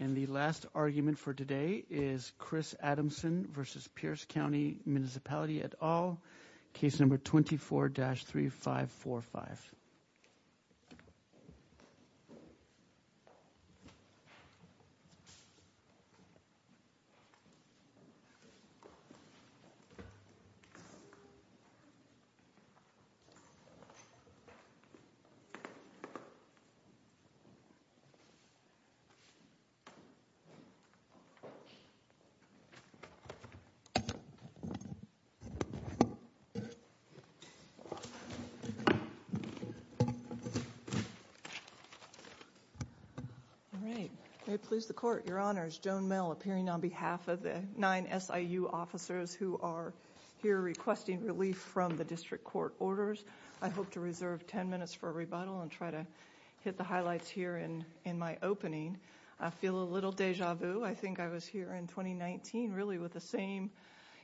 And the last argument for today is Chris Adamson versus Pierce County Municipality et al. Case number 24-3545. All right. May it please the court, your honors, Joan Mel appearing on behalf of the nine SIU officers who are here requesting relief from the district court orders. I hope to reserve 10 minutes for a rebuttal and try to hit the highlights here in my opening. I feel a little deja vu. I think I was here in 2019 really with the same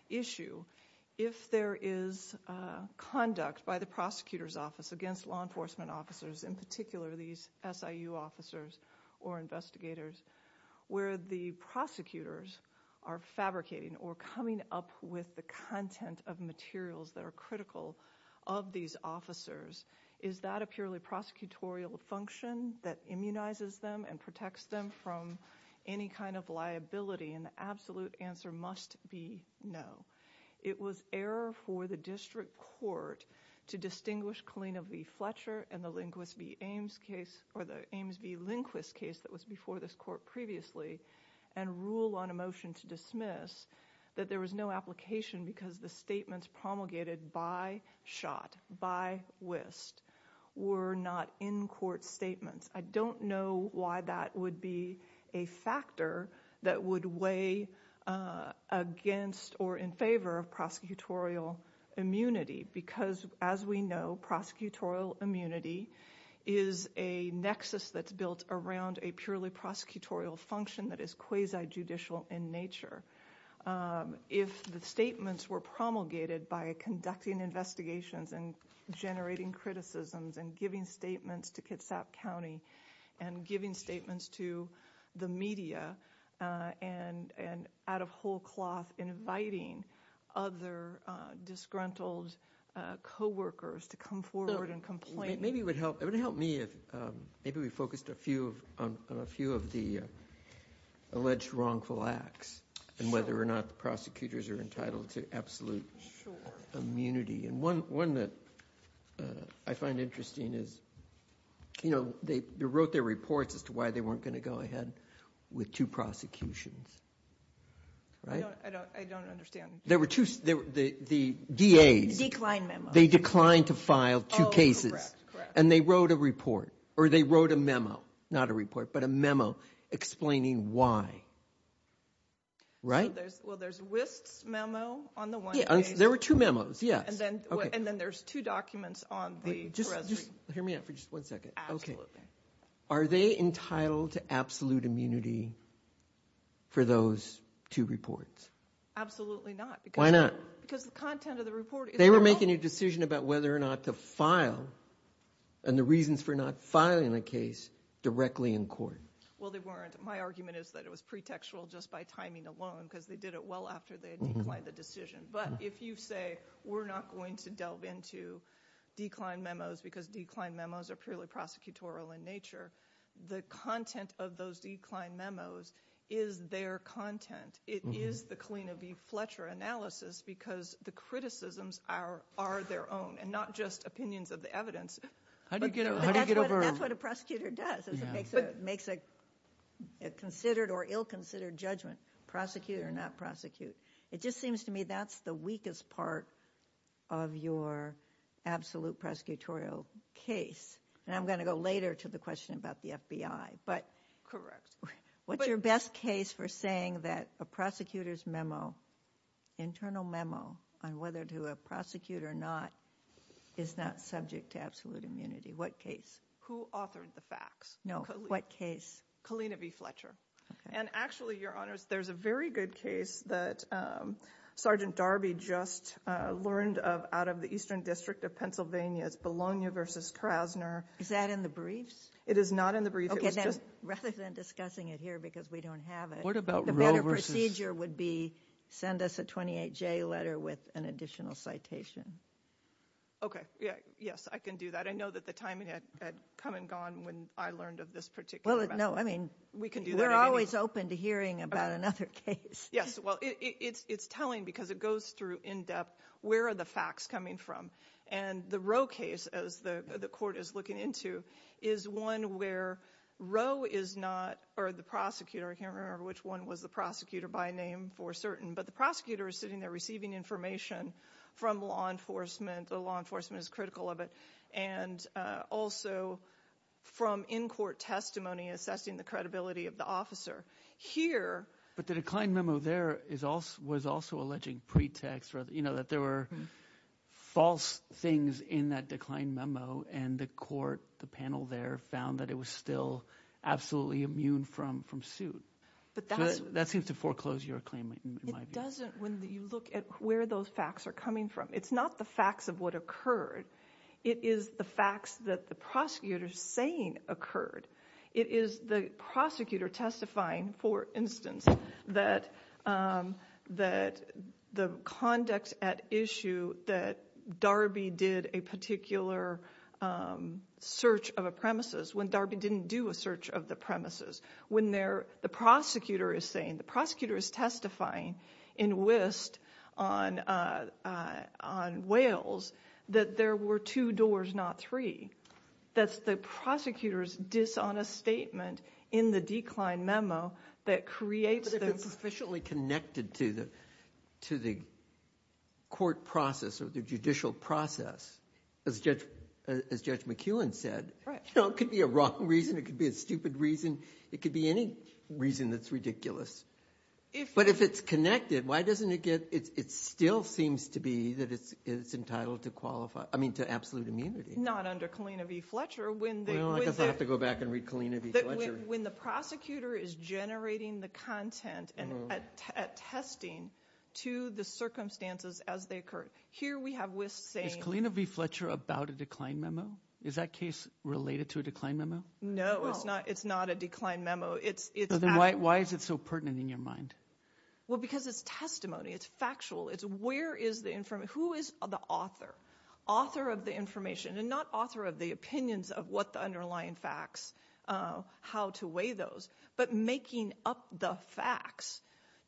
issue. If there is conduct by the prosecutor's office against law enforcement officers, in particular these SIU officers or investigators, where the prosecutors are fabricating or coming up with the content of materials that are critical of these officers, is that a purely prosecutorial function that immunizes them and protects them from any kind of liability? And the absolute answer must be no. It was error for the district court to distinguish Kalina v. Fletcher and the Ames v. Lindquist case that was before this court previously and rule on a motion to dismiss that there was no application because the statements promulgated by Shot, by Wist, were not in-court statements. I don't know why that would be a factor that would weigh against or in favor of prosecutorial immunity because, as we know, prosecutorial immunity is a nexus that's built around a purely prosecutorial function that is quasi-judicial in nature. If the statements were promulgated by conducting investigations and generating criticisms and giving statements to Kitsap County and giving statements to the media and out of whole cloth inviting other disgruntled coworkers to come forward and complain. It would help me if maybe we focused on a few of the alleged wrongful acts and whether or not the prosecutors are entitled to absolute immunity. And one that I find interesting is they wrote their reports as to why they weren't going to go ahead with two prosecutions. I don't understand. There were two, the DAs. Decline memos. They declined to file two cases. Correct, correct. And they wrote a report or they wrote a memo, not a report, but a memo explaining why. Right? Well, there's Wist's memo on the one case. There were two memos, yes. And then there's two documents on the. Just hear me out for just one second. Absolutely. Are they entitled to absolute immunity for those two reports? Absolutely not. Why not? Because the content of the report. They were making a decision about whether or not to file and the reasons for not filing a case directly in court. Well, they weren't. My argument is that it was pretextual just by timing alone because they did it well after they declined the decision. But if you say we're not going to delve into decline memos because decline memos are purely prosecutorial in nature, the content of those decline memos is their content. It is the Kalina B. Fletcher analysis because the criticisms are their own and not just opinions of the evidence. How do you get over? That's what a prosecutor does is it makes a considered or ill-considered judgment, prosecute or not prosecute. It just seems to me that's the weakest part of your absolute prosecutorial case. And I'm going to go later to the question about the FBI. Correct. What's your best case for saying that a prosecutor's memo, internal memo on whether to prosecute or not is not subject to absolute immunity? What case? Who authored the facts? No. What case? Kalina B. Fletcher. And actually, Your Honors, there's a very good case that Sergeant Darby just learned of out of the Eastern District of Pennsylvania. It's Bologna versus Krasner. Is that in the briefs? It is not in the briefs. Rather than discussing it here because we don't have it, the better procedure would be send us a 28-J letter with an additional citation. Okay. Yes, I can do that. I know that the timing had come and gone when I learned of this particular memo. Well, no. I mean, we're always open to hearing about another case. Yes. Well, it's telling because it goes through in depth where are the facts coming from. And the Rowe case, as the court is looking into, is one where Rowe is not, or the prosecutor, I can't remember which one was the prosecutor by name for certain. But the prosecutor is sitting there receiving information from law enforcement. The law enforcement is critical of it. And also from in-court testimony assessing the credibility of the officer. But the declined memo there was also alleging pretext, that there were false things in that declined memo. And the court, the panel there, found that it was still absolutely immune from suit. So that seems to foreclose your claim in my view. It doesn't when you look at where those facts are coming from. It's not the facts of what occurred. It is the facts that the prosecutor is saying occurred. It is the prosecutor testifying, for instance, that the conduct at issue that Darby did a particular search of a premises when Darby didn't do a search of the premises. When the prosecutor is saying, the prosecutor is testifying in UIST on Wales that there were two doors, not three. That's the prosecutor's dishonest statement in the declined memo that creates the. But if it's officially connected to the court process or the judicial process, as Judge McEwen said. Right. It could be a wrong reason. It could be a stupid reason. It could be any reason that's ridiculous. But if it's connected, why doesn't it get, it still seems to be that it's entitled to qualify, I mean to absolute immunity. Not under Kalina v. Fletcher. Well, I guess I'll have to go back and read Kalina v. Fletcher. When the prosecutor is generating the content and attesting to the circumstances as they occur. Here we have UIST saying. Is Kalina v. Fletcher about a declined memo? Is that case related to a declined memo? No, it's not. It's not a declined memo. It's. Why is it so pertinent in your mind? Well, because it's testimony. It's factual. It's where is the, who is the author? Author of the information. And not author of the opinions of what the underlying facts, how to weigh those. But making up the facts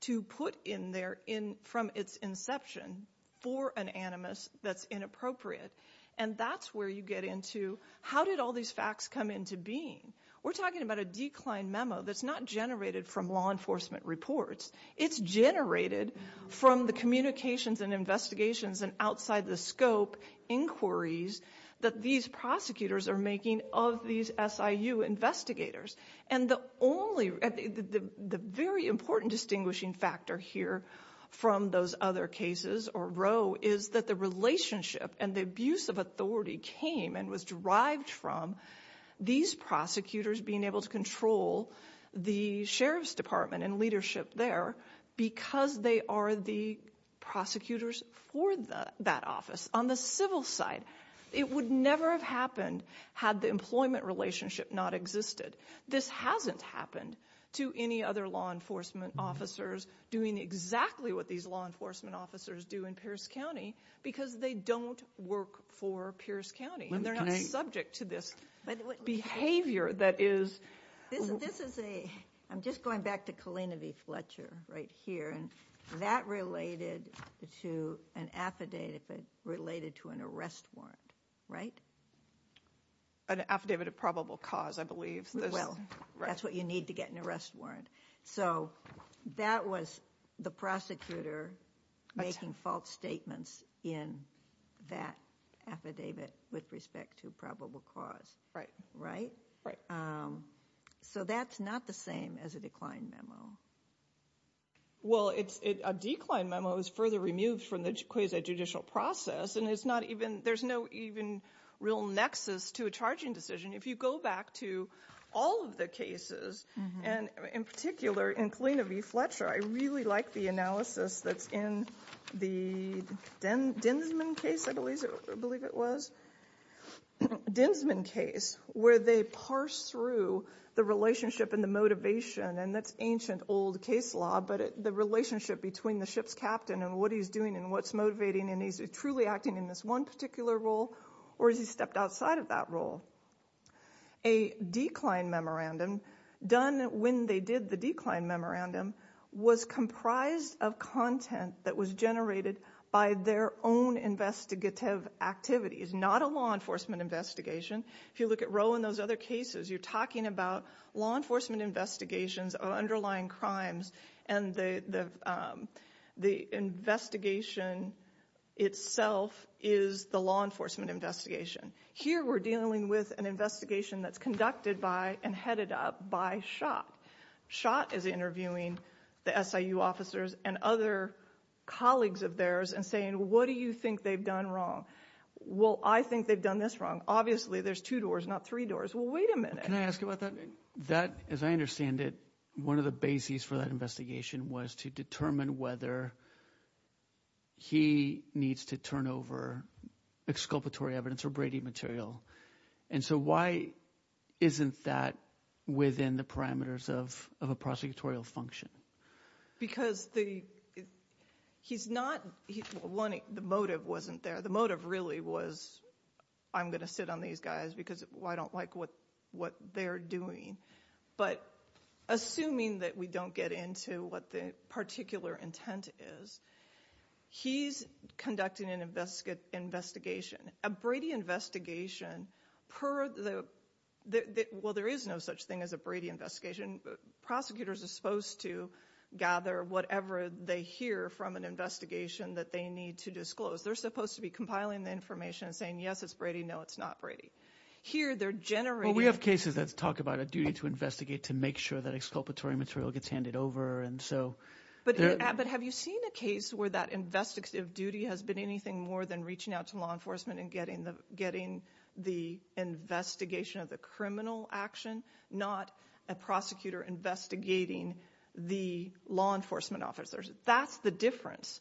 to put in there from its inception for an animus that's inappropriate. And that's where you get into how did all these facts come into being? We're talking about a declined memo that's not generated from law enforcement reports. It's generated from the communications and investigations and outside the scope inquiries that these prosecutors are making of these SIU investigators. And the only, the very important distinguishing factor here from those other cases or Roe is that the relationship and the abuse of authority came and was derived from these prosecutors being able to control the sheriff's department and leadership there because they are the prosecutors for that office on the civil side. It would never have happened had the employment relationship not existed. This hasn't happened to any other law enforcement officers doing exactly what these law enforcement officers do in Pierce County because they don't work for Pierce County and they're not subject to this behavior that is. This is a, I'm just going back to Colina V. Fletcher right here and that related to an affidavit related to an arrest warrant, right? An affidavit of probable cause, I believe. Well, that's what you need to get an arrest warrant. So that was the prosecutor making false statements in that affidavit with respect to probable cause, right? Right. So that's not the same as a decline memo. Well, it's a decline memo is further removed from the quasi judicial process and it's not even, there's no even real nexus to a charging decision. If you go back to all of the cases and in particular in Colina V. Fletcher, I really like the analysis that's in the Dinsman case, I believe it was. Dinsman case where they parse through the relationship and the motivation and that's ancient old case law, but the relationship between the ship's captain and what he's doing and what's motivating and he's truly acting in this one particular role or is he stepped outside of that role? A decline memorandum done when they did the decline memorandum was comprised of content that was generated by their own investigative activities, not a law enforcement investigation. If you look at Roe and those other cases, you're talking about law enforcement investigations of underlying crimes and the investigation itself is the law enforcement investigation. Here we're dealing with an investigation that's conducted by and headed up by Schott. Schott is interviewing the SIU officers and other colleagues of theirs and saying, what do you think they've done wrong? Well, I think they've done this wrong. Obviously there's two doors, not three doors. Well, wait a minute. Can I ask you about that? As I understand it, one of the bases for that investigation was to determine whether he needs to turn over exculpatory evidence or Brady material. And so why isn't that within the parameters of a prosecutorial function? Because the motive wasn't there. The motive really was I'm going to sit on these guys because I don't like what they're doing. But assuming that we don't get into what the particular intent is, he's conducting an investigation, a Brady investigation. Well, there is no such thing as a Brady investigation. Prosecutors are supposed to gather whatever they hear from an investigation that they need to disclose. They're supposed to be compiling the information and saying, yes, it's Brady. No, it's not Brady. Here they're generating. Well, we have cases that talk about a duty to investigate to make sure that exculpatory material gets handed over. But have you seen a case where that investigative duty has been anything more than reaching out to law enforcement and getting the investigation of the criminal action, not a prosecutor investigating the law enforcement officers? That's the difference.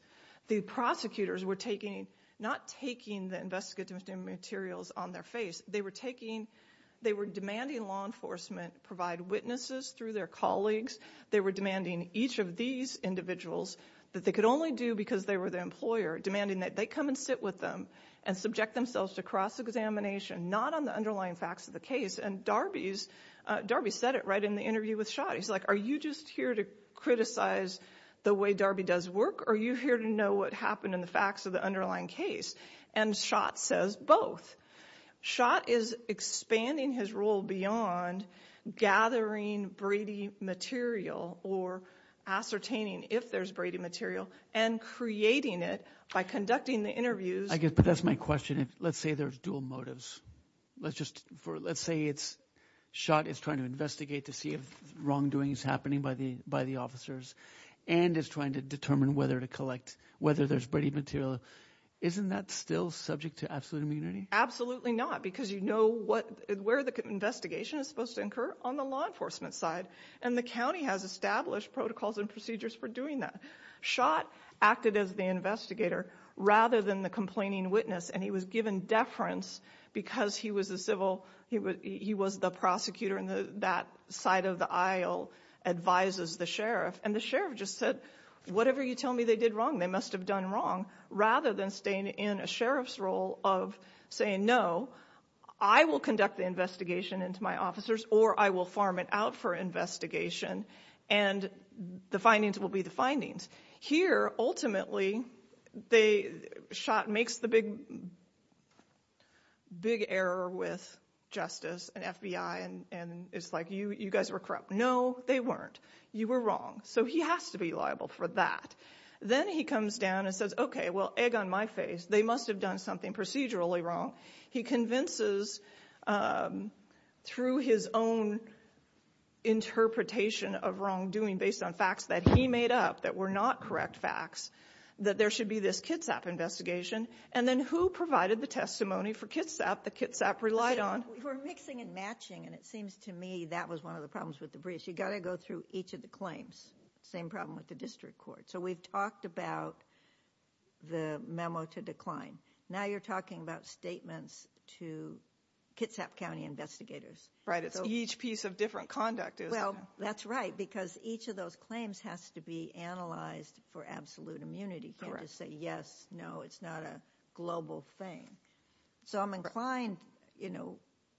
The prosecutors were taking not taking the investigative materials on their face. They were taking they were demanding law enforcement provide witnesses through their colleagues. They were demanding each of these individuals that they could only do because they were the employer demanding that they come and sit with them and subject themselves to cross examination, not on the underlying facts of the case. And Darby's Darby said it right in the interview with shot. He's like, are you just here to criticize the way Darby does work? Are you here to know what happened in the facts of the underlying case? And shot says both shot is expanding his role beyond gathering Brady material or ascertaining if there's Brady material and creating it by conducting the interviews. But that's my question. Let's say there's dual motives. Let's just let's say it's shot. It's trying to investigate to see if wrongdoing is happening by the by the officers and is trying to determine whether to collect whether there's Brady material. Isn't that still subject to absolute immunity? Absolutely not, because you know what where the investigation is supposed to incur on the law enforcement side. And the county has established protocols and procedures for doing that. Acted as the investigator rather than the complaining witness. And he was given deference because he was a civil. He was the prosecutor in that side of the aisle, advises the sheriff. And the sheriff just said, whatever you tell me they did wrong, they must have done wrong. Rather than staying in a sheriff's role of saying, no, I will conduct the investigation into my officers or I will farm it out for investigation. And the findings will be the findings here. Ultimately, they shot makes the big, big error with justice and FBI. And it's like you, you guys were corrupt. No, they weren't. You were wrong. So he has to be liable for that. Then he comes down and says, okay, well, egg on my face. They must have done something procedurally wrong. He convinces through his own interpretation of wrongdoing based on facts that he made up that were not correct facts that there should be this Kitsap investigation. And then who provided the testimony for Kitsap that Kitsap relied on? We're mixing and matching. And it seems to me that was one of the problems with the briefs. You've got to go through each of the claims. Same problem with the district court. So we've talked about the memo to decline. Now you're talking about statements to Kitsap County investigators. Right, it's each piece of different conduct. Well, that's right, because each of those claims has to be analyzed for absolute immunity. You can't just say, yes, no, it's not a global thing. So I'm inclined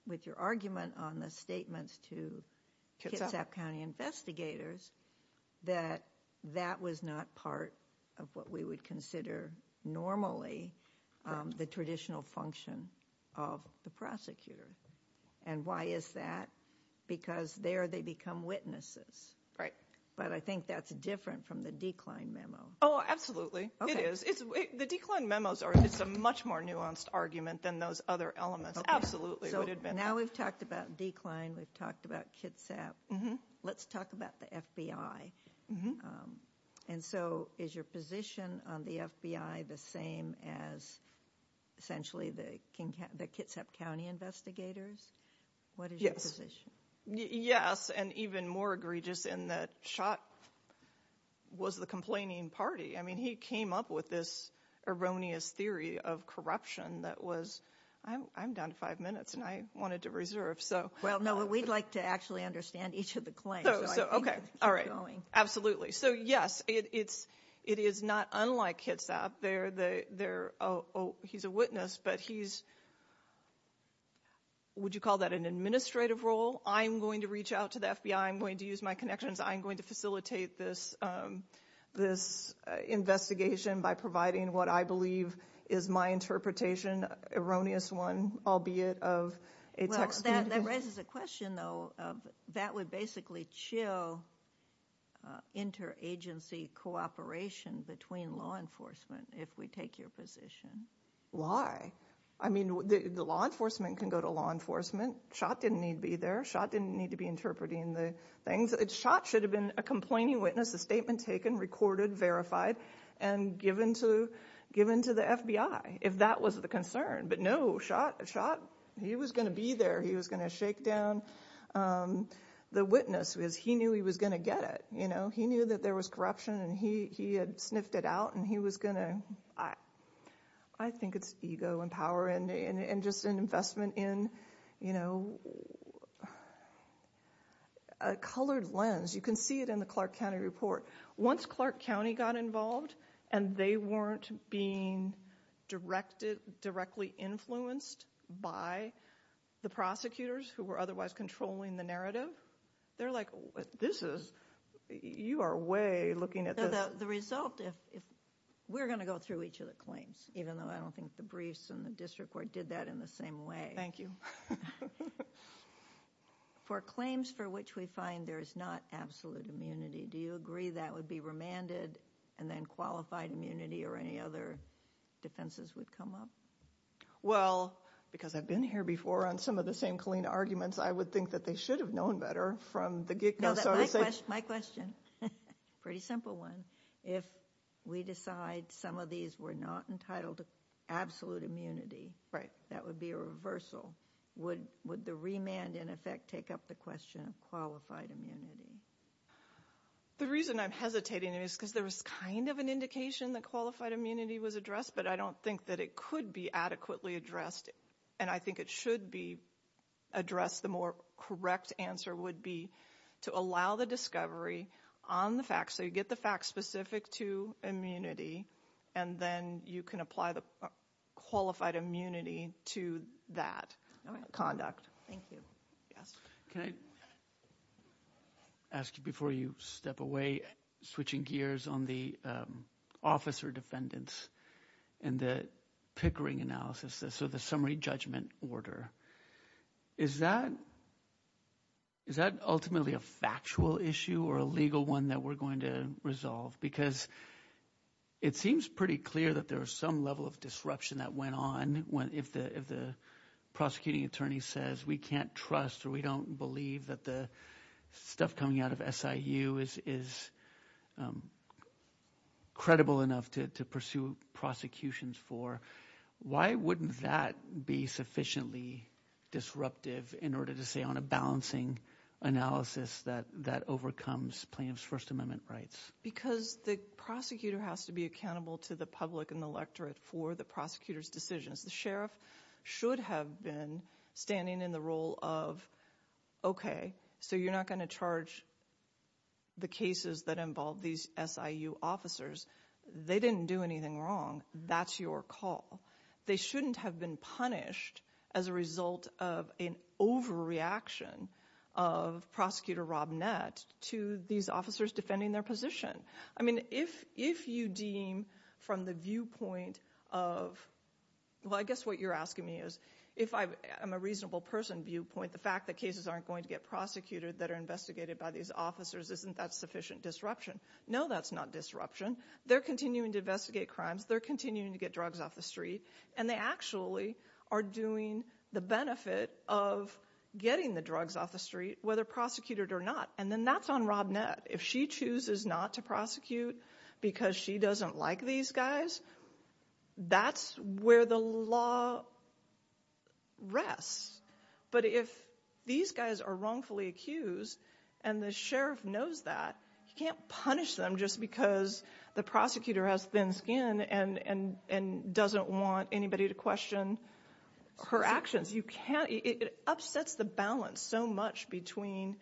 with your argument on the statements to Kitsap County investigators that that was not part of what we would consider normally the traditional function of the prosecutor. And why is that? Because there they become witnesses. Right. But I think that's different from the decline memo. Oh, absolutely. It is. The decline memos are a much more nuanced argument than those other elements. Now we've talked about decline. We've talked about Kitsap. Let's talk about the FBI. And so is your position on the FBI the same as essentially the Kitsap County investigators? Yes. What is your position? Yes, and even more egregious in that Schott was the complaining party. I mean, he came up with this erroneous theory of corruption that was I'm down to five minutes and I wanted to reserve. So, well, no, we'd like to actually understand each of the claims. OK. All right. Absolutely. So, yes, it's it is not unlike Kitsap. They're there. Oh, he's a witness, but he's. Would you call that an administrative role? I'm going to reach out to the FBI. I'm going to use my connections. I'm going to facilitate this this investigation by providing what I believe is my interpretation. Erroneous one, albeit of a text. That raises a question, though, that would basically chill interagency cooperation between law enforcement. If we take your position. Why? I mean, the law enforcement can go to law enforcement. Schott didn't need to be there. Schott didn't need to be interpreting the things. Schott should have been a complaining witness, a statement taken, recorded, verified and given to given to the FBI if that was the concern. But no, Schott, Schott, he was going to be there. He was going to shake down the witness because he knew he was going to get it. You know, he knew that there was corruption and he he had sniffed it out and he was going to. I think it's ego and power and just an investment in, you know. A colored lens, you can see it in the Clark County report. Once Clark County got involved and they weren't being directed, directly influenced by the prosecutors who were otherwise controlling the narrative. They're like, this is you are way looking at the result. If we're going to go through each of the claims, even though I don't think the briefs and the district court did that in the same way. Thank you for claims for which we find there is not absolute immunity. Do you agree that would be remanded and then qualified immunity or any other defenses would come up? Well, because I've been here before on some of the same clean arguments, I would think that they should have known better from the get go. My question, pretty simple one. If we decide some of these were not entitled to absolute immunity. Right. That would be a reversal. Would would the remand in effect take up the question of qualified immunity? The reason I'm hesitating is because there was kind of an indication that qualified immunity was addressed. But I don't think that it could be adequately addressed. And I think it should be addressed. The more correct answer would be to allow the discovery on the facts. So you get the facts specific to immunity and then you can apply the qualified immunity to that conduct. Thank you. Yes. Can I ask you before you step away, switching gears on the officer defendants and the Pickering analysis? So the summary judgment order. Is that. Is that ultimately a factual issue or a legal one that we're going to resolve? Because it seems pretty clear that there is some level of disruption that went on. When if the if the prosecuting attorney says we can't trust or we don't believe that the stuff coming out of S.I.U. is is. Credible enough to pursue prosecutions for. Why wouldn't that be sufficiently disruptive in order to say on a balancing analysis that that overcomes plaintiff's First Amendment rights? Because the prosecutor has to be accountable to the public and the electorate for the prosecutor's decisions. The sheriff should have been standing in the role of. OK, so you're not going to charge. The cases that involve these S.I.U. officers. They didn't do anything wrong. That's your call. They shouldn't have been punished as a result of an overreaction of prosecutor Rob Nett to these officers defending their position. I mean, if if you deem from the viewpoint of, well, I guess what you're asking me is if I'm a reasonable person viewpoint, the fact that cases aren't going to get prosecuted that are investigated by these officers, isn't that sufficient disruption? No, that's not disruption. They're continuing to investigate crimes. They're continuing to get drugs off the street. And they actually are doing the benefit of getting the drugs off the street, whether prosecuted or not. And then that's on Rob Nett. If she chooses not to prosecute because she doesn't like these guys, that's where the law rests. But if these guys are wrongfully accused and the sheriff knows that he can't punish them just because the prosecutor has thin skin and and and doesn't want anybody to question her actions. It upsets the balance so much between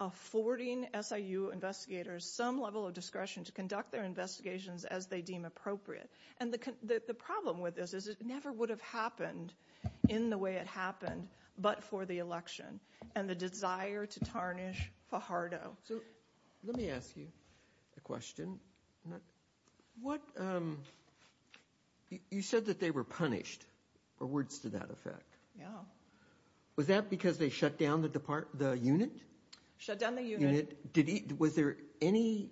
affording SIU investigators some level of discretion to conduct their investigations as they deem appropriate. And the problem with this is it never would have happened in the way it happened, but for the election and the desire to tarnish Fajardo. Let me ask you a question. What you said that they were punished or words to that effect? Yeah. Was that because they shut down the unit? Shut down the unit. Was there any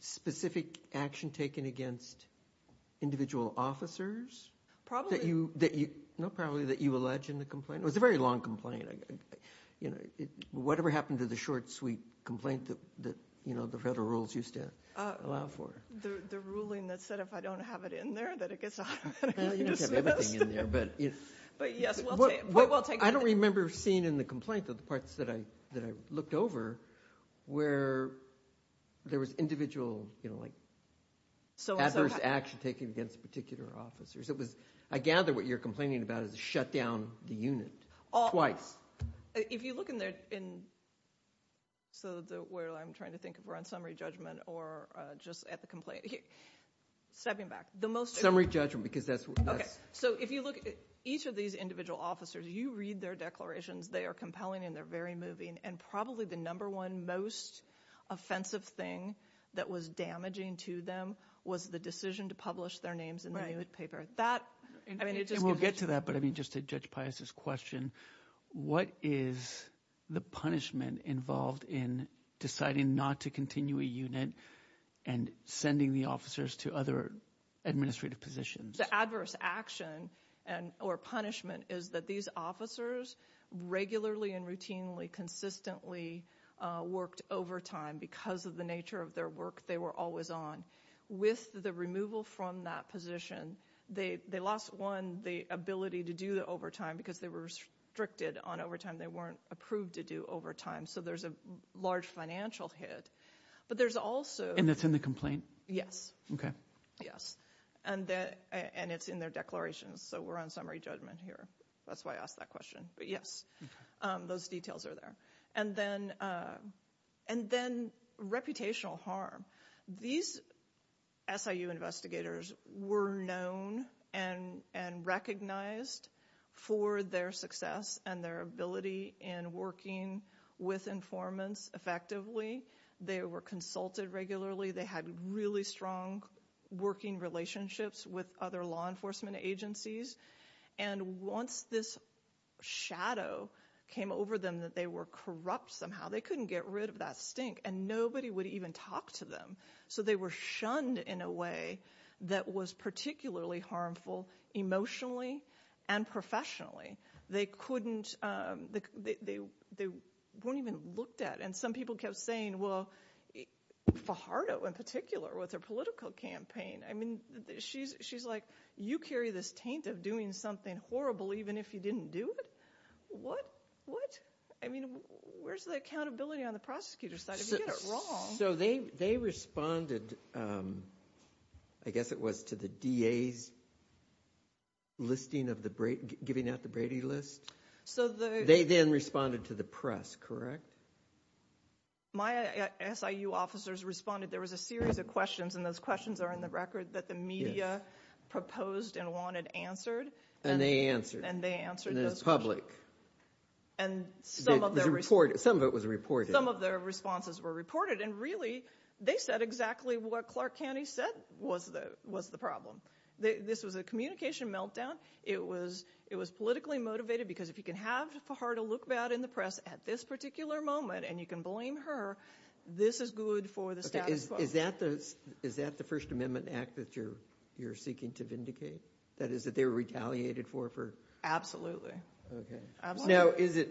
specific action taken against individual officers? Probably that you know, probably that you allege in the complaint was a very long complaint. Whatever happened to the short, sweet complaint that the federal rules used to allow for? The ruling that said if I don't have it in there that it gets out of hand. You don't have everything in there. But yes, we'll take it. I don't remember seeing in the complaint the parts that I looked over where there was individual adverse action taken against particular officers. I gather what you're complaining about is shut down the unit twice. If you look in there, so where I'm trying to think if we're on summary judgment or just at the complaint. Stepping back. Summary judgment because that's. Okay. So if you look at each of these individual officers, you read their declarations. They are compelling and they're very moving. And probably the number one most offensive thing that was damaging to them was the decision to publish their names in the newspaper. That I mean, it just will get to that. But I mean, just to Judge Pius's question, what is the punishment involved in deciding not to continue a unit and sending the officers to other administrative positions? The adverse action or punishment is that these officers regularly and routinely consistently worked overtime because of the nature of their work they were always on. With the removal from that position, they lost, one, the ability to do the overtime because they were restricted on overtime. They weren't approved to do overtime. So there's a large financial hit. But there's also. And that's in the complaint? Yes. Okay. Yes. And it's in their declarations. So we're on summary judgment here. That's why I asked that question. But yes, those details are there. And then reputational harm. These SIU investigators were known and recognized for their success and their ability in working with informants effectively. They were consulted regularly. They had really strong working relationships with other law enforcement agencies. And once this shadow came over them that they were corrupt somehow, they couldn't get rid of that stink. And nobody would even talk to them. So they were shunned in a way that was particularly harmful emotionally and professionally. They couldn't. They weren't even looked at. And some people kept saying, well, Fajardo in particular with her political campaign. I mean, she's like, you carry this taint of doing something horrible even if you didn't do it? What? What? I mean, where's the accountability on the prosecutor's side if you get it wrong? So they responded, I guess it was to the DA's listing of the Brady. Giving out the Brady list. So the. They then responded to the press, correct? My SIU officers responded. There was a series of questions, and those questions are in the record that the media proposed and wanted answered. And they answered. And they answered those questions. Some of it was reported. Some of their responses were reported. And really, they said exactly what Clark County said was the problem. This was a communication meltdown. It was politically motivated because if you can have Fajardo look bad in the press at this particular moment, and you can blame her, this is good for the status quo. Is that the First Amendment Act that you're seeking to vindicate? That is, that they were retaliated for? Absolutely. Okay. Now, is it.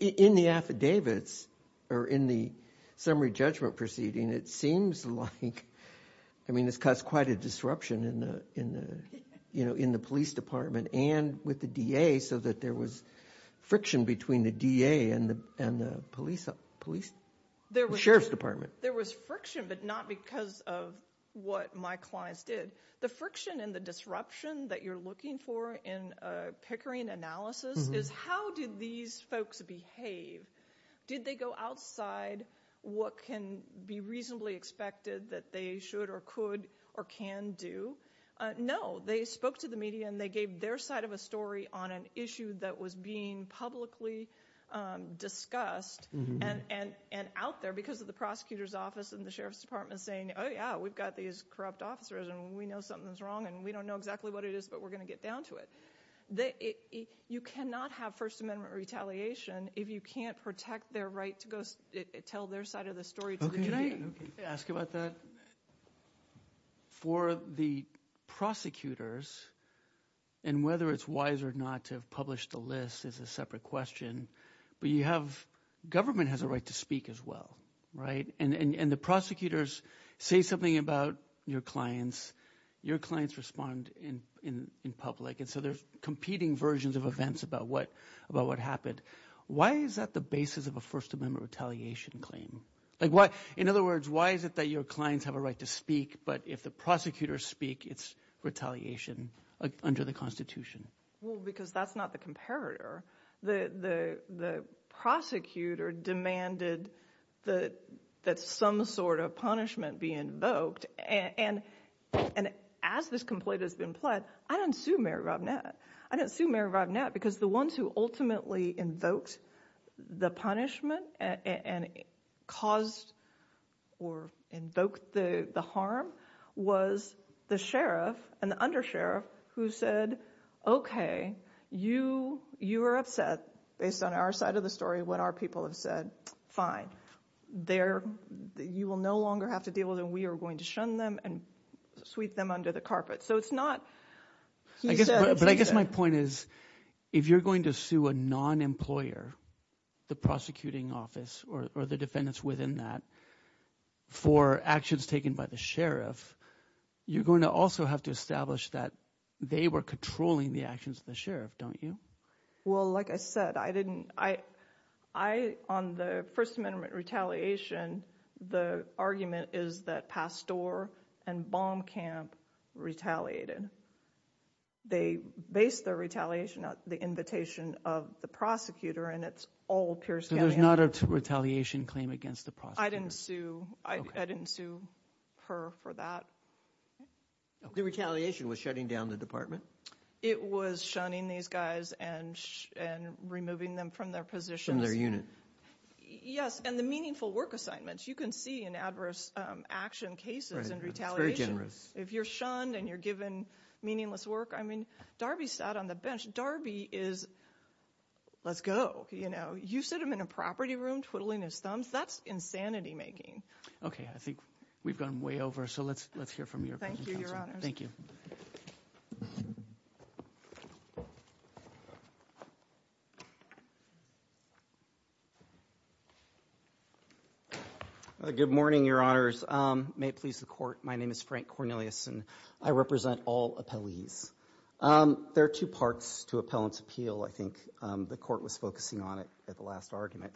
In the affidavits or in the summary judgment proceeding, it seems like. I mean, this caused quite a disruption in the police department and with the DA, so that there was friction between the DA and the police, sheriff's department. There was friction, but not because of what my clients did. The friction and the disruption that you're looking for in a Pickering analysis is how did these folks behave? Did they go outside what can be reasonably expected that they should or could or can do? No. They spoke to the media, and they gave their side of a story on an issue that was being publicly discussed and out there because of the prosecutor's office and the sheriff's department saying, oh, yeah, we've got these corrupt officers, and we know something's wrong, and we don't know exactly what it is, but we're going to get down to it. You cannot have First Amendment retaliation if you can't protect their right to go tell their side of the story. Can I ask about that? For the prosecutors, and whether it's wise or not to have published the list is a separate question, but you have – government has a right to speak as well, right? And the prosecutors say something about your clients. Your clients respond in public, and so there's competing versions of events about what happened. Why is that the basis of a First Amendment retaliation claim? In other words, why is it that your clients have a right to speak, but if the prosecutors speak, it's retaliation under the Constitution? Well, because that's not the comparator. The prosecutor demanded that some sort of punishment be invoked, and as this complaint has been pled, I didn't sue Mary Robinette. I didn't sue Mary Robinette because the ones who ultimately invoked the punishment and caused or invoked the harm was the sheriff and the undersheriff who said, okay, you were upset based on our side of the story when our people have said, fine, you will no longer have to deal with it, and we are going to shun them and sweep them under the carpet. So it's not – he said – But I guess my point is if you're going to sue a non-employer, the prosecuting office, or the defendants within that for actions taken by the sheriff, you're going to also have to establish that they were controlling the actions of the sheriff, don't you? Well, like I said, I didn't – I – on the First Amendment retaliation, the argument is that Pastor and Baumkamp retaliated. They based their retaliation on the invitation of the prosecutor, and it's all peer-scanning. So there's not a retaliation claim against the prosecutor? I didn't sue – I didn't sue her for that. The retaliation was shutting down the department? It was shunning these guys and removing them from their positions. Yes, and the meaningful work assignments. You can see in adverse action cases and retaliation. If you're shunned and you're given meaningless work, I mean, Darby sat on the bench. Darby is, let's go, you know. You sit him in a property room twiddling his thumbs, that's insanity-making. Okay, I think we've gone way over, so let's hear from your opposing counsel. Thank you, Your Honors. Thank you. Good morning, Your Honors. May it please the Court, my name is Frank Cornelius, and I represent all appellees. There are two parts to appellant's appeal. I think the Court was focusing on it at the last argument.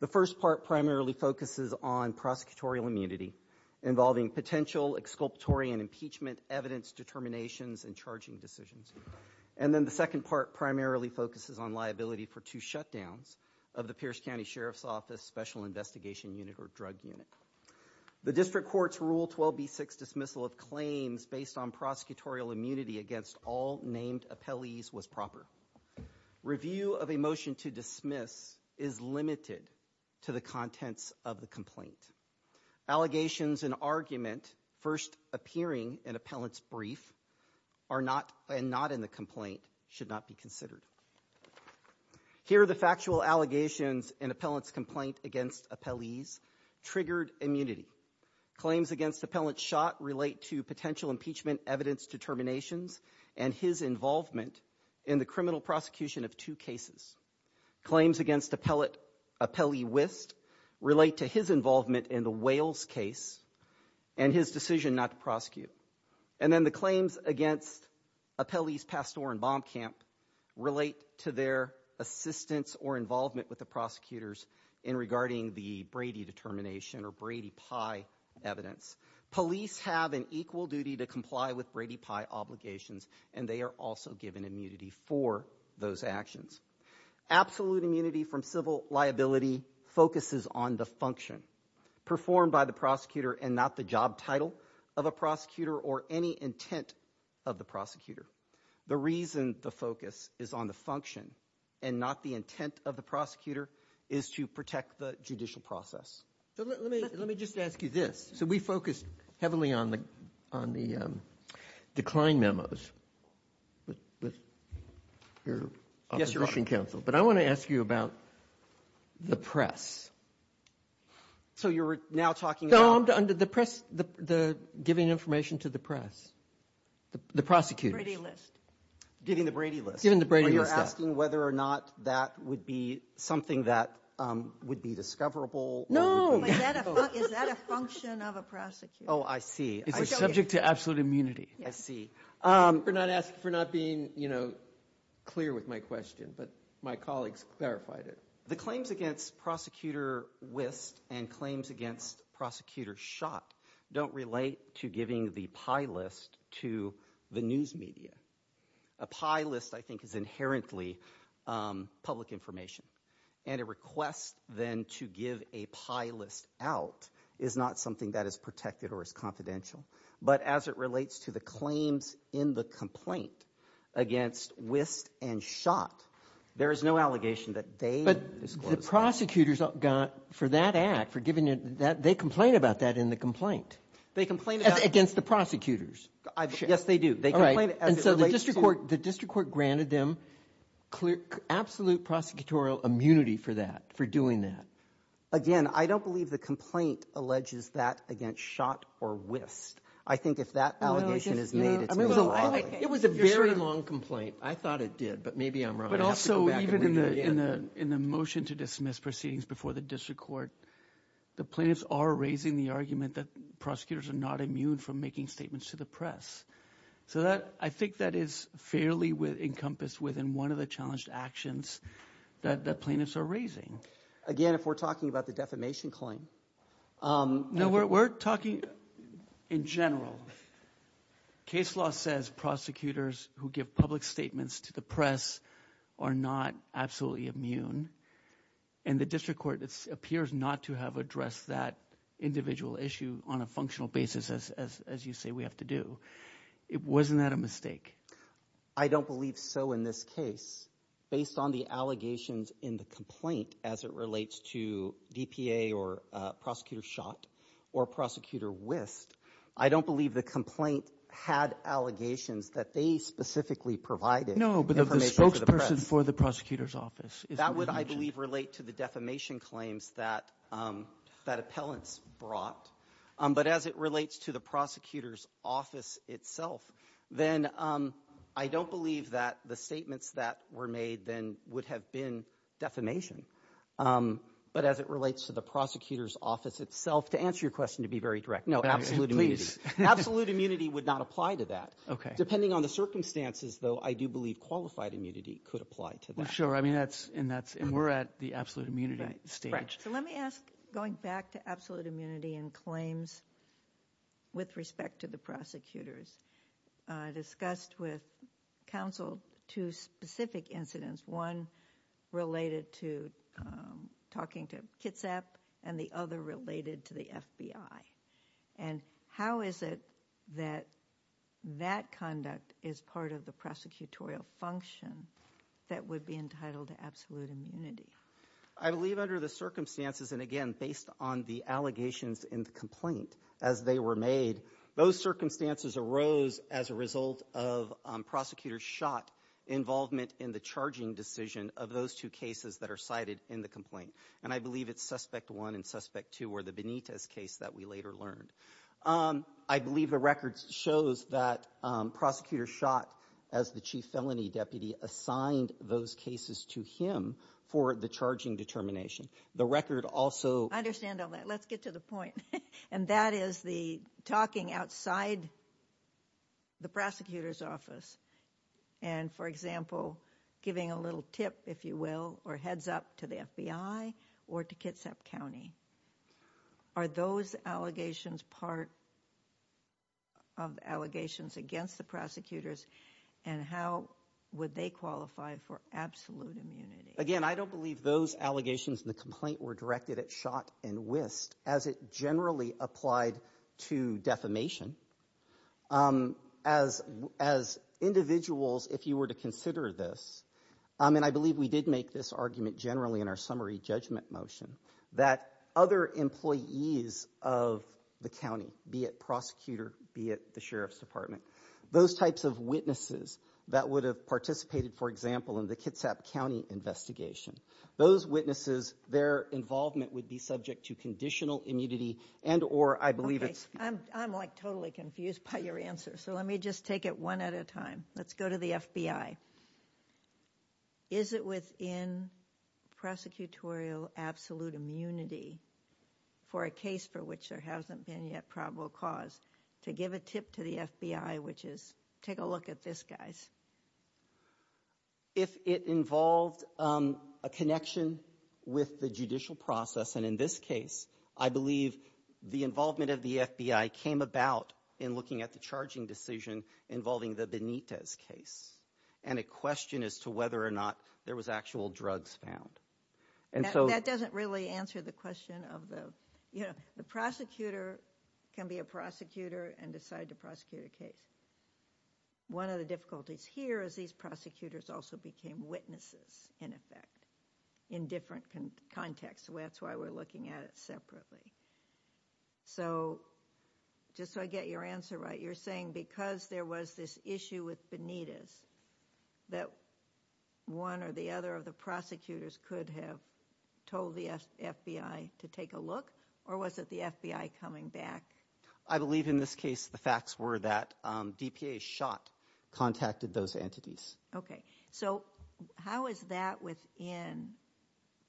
The first part primarily focuses on prosecutorial immunity, involving potential exculpatory and impeachment evidence determinations and charging decisions. And then the second part primarily focuses on liability for two shutdowns of the Pierce County Sheriff's Office Special Investigation Unit or Drug Unit. The District Court's Rule 12b6 dismissal of claims based on prosecutorial immunity against all named appellees was proper. Review of a motion to dismiss is limited to the contents of the complaint. Allegations and argument first appearing in appellant's brief and not in the complaint should not be considered. Here are the factual allegations in appellant's complaint against appellees. Triggered immunity. Claims against appellant shot relate to potential impeachment evidence determinations and his involvement in the criminal prosecution of two cases. Claims against appellee Wist relate to his involvement in the Wales case and his decision not to prosecute. And then the claims against appellees Pastore and Baumkamp relate to their assistance or involvement with the prosecutors in regarding the Brady determination or Brady pie evidence. Police have an equal duty to comply with Brady pie obligations and they are also given immunity for those actions. Absolute immunity from civil liability focuses on the function performed by the prosecutor and not the job title of a prosecutor or any intent of the prosecutor. The reason the focus is on the function and not the intent of the prosecutor is to protect the judicial process. Let me just ask you this. So we focused heavily on the decline memos with your opposition counsel. But I want to ask you about the press. So you're now talking about the press, the giving information to the press, the prosecutors. Brady list. Giving the Brady list. Giving the Brady list, yes. Are you asking whether or not that would be something that would be discoverable? Is that a function of a prosecutor? Oh, I see. It's a subject to absolute immunity. I see. For not being, you know, clear with my question, but my colleagues clarified it. The claims against prosecutor Wist and claims against prosecutor Schott don't relate to giving the pie list to the news media. A pie list, I think, is inherently public information. And a request then to give a pie list out is not something that is protected or is confidential. But as it relates to the claims in the complaint against Wist and Schott, there is no allegation that they disclosed it. But the prosecutors got for that act, for giving it, they complain about that in the complaint. They complain about it. Against the prosecutors. Yes, they do. And so the district court granted them absolute prosecutorial immunity for that, for doing that. Again, I don't believe the complaint alleges that against Schott or Wist. I think if that allegation is made, it's really wrong. It was a very long complaint. I thought it did, but maybe I'm wrong. But also even in the motion to dismiss proceedings before the district court, the plaintiffs are raising the argument that prosecutors are not immune from making statements to the press. So I think that is fairly encompassed within one of the challenged actions that plaintiffs are raising. Again, if we're talking about the defamation claim. No, we're talking in general. Case law says prosecutors who give public statements to the press are not absolutely immune. And the district court appears not to have addressed that individual issue on a functional basis, as you say we have to do. Wasn't that a mistake? I don't believe so in this case. Based on the allegations in the complaint as it relates to DPA or Prosecutor Schott or Prosecutor Wist, I don't believe the complaint had allegations that they specifically provided information to the press. The question for the prosecutor's office. That would, I believe, relate to the defamation claims that appellants brought. But as it relates to the prosecutor's office itself, then I don't believe that the statements that were made then would have been defamation. But as it relates to the prosecutor's office itself, to answer your question to be very direct, no, absolute immunity. Absolute immunity would not apply to that. Okay. Depending on the circumstances, though, I do believe qualified immunity could apply to that. Well, sure. And we're at the absolute immunity stage. Right. So let me ask, going back to absolute immunity and claims with respect to the prosecutors, discussed with counsel two specific incidents, one related to talking to Kitsap and the other related to the FBI. And how is it that that conduct is part of the prosecutorial function that would be entitled to absolute immunity? I believe under the circumstances, and again, based on the allegations in the complaint as they were made, those circumstances arose as a result of prosecutors' shot involvement in the charging decision of those two cases that are cited in the complaint. And I believe it's suspect one and suspect two were the Benitez case that we later learned. I believe the record shows that prosecutors shot as the chief felony deputy assigned those cases to him for the charging determination. The record also- I understand all that. Let's get to the point. And that is the talking outside the prosecutor's office and, for example, giving a little tip, if you will, or heads up to the FBI or to Kitsap County. Are those allegations part of allegations against the prosecutors? And how would they qualify for absolute immunity? Again, I don't believe those allegations in the complaint were directed at Schott and Wist as it generally applied to defamation. As individuals, if you were to consider this, and I believe we did make this argument generally in our summary judgment motion, that other employees of the county, be it prosecutor, be it the sheriff's department, those types of witnesses that would have participated, for example, in the Kitsap County investigation, those witnesses, their involvement would be subject to conditional immunity and or I believe it's- I'm like totally confused by your answer. So let me just take it one at a time. Let's go to the FBI. Is it within prosecutorial absolute immunity for a case for which there hasn't been yet probable cause to give a tip to the FBI, which is take a look at this, guys? If it involved a connection with the judicial process, and in this case, I believe the involvement of the FBI came about in looking at the charging decision involving the Benitez case and a question as to whether or not there was actual drugs found. That doesn't really answer the question of the- The prosecutor can be a prosecutor and decide to prosecute a case. One of the difficulties here is these prosecutors also became witnesses, in effect, in different contexts. That's why we're looking at it separately. So just so I get your answer right, you're saying because there was this issue with Benitez that one or the other of the prosecutors could have told the FBI to take a look, or was it the FBI coming back? I believe in this case the facts were that DPA's shot contacted those entities. Okay. So how is that within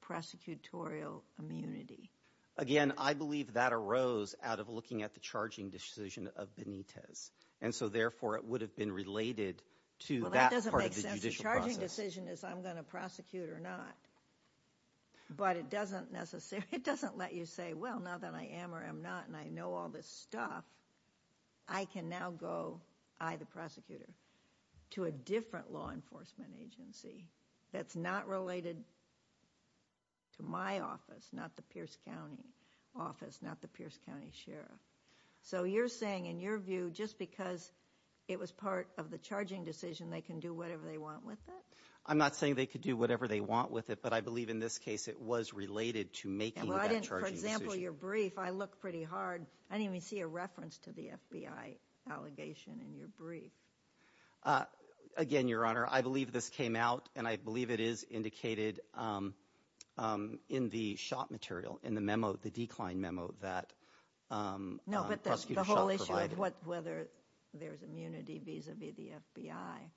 prosecutorial immunity? Again, I believe that arose out of looking at the charging decision of Benitez, and so therefore it would have been related to that part of the judicial process. Well, that doesn't make sense. The charging decision is I'm going to prosecute or not. But it doesn't let you say, well, now that I am or am not and I know all this stuff, I can now go, I the prosecutor, to a different law enforcement agency that's not related to my office, not the Pierce County office, not the Pierce County sheriff. So you're saying, in your view, just because it was part of the charging decision, they can do whatever they want with it? I'm not saying they could do whatever they want with it, but I believe in this case it was related to making that charging decision. For example, your brief, I look pretty hard. I didn't even see a reference to the FBI allegation in your brief. Again, Your Honor, I believe this came out, and I believe it is indicated in the shot material, in the memo, the decline memo that Prosecutor Schott provided. No, but the whole issue of whether there's immunity vis-a-vis the FBI,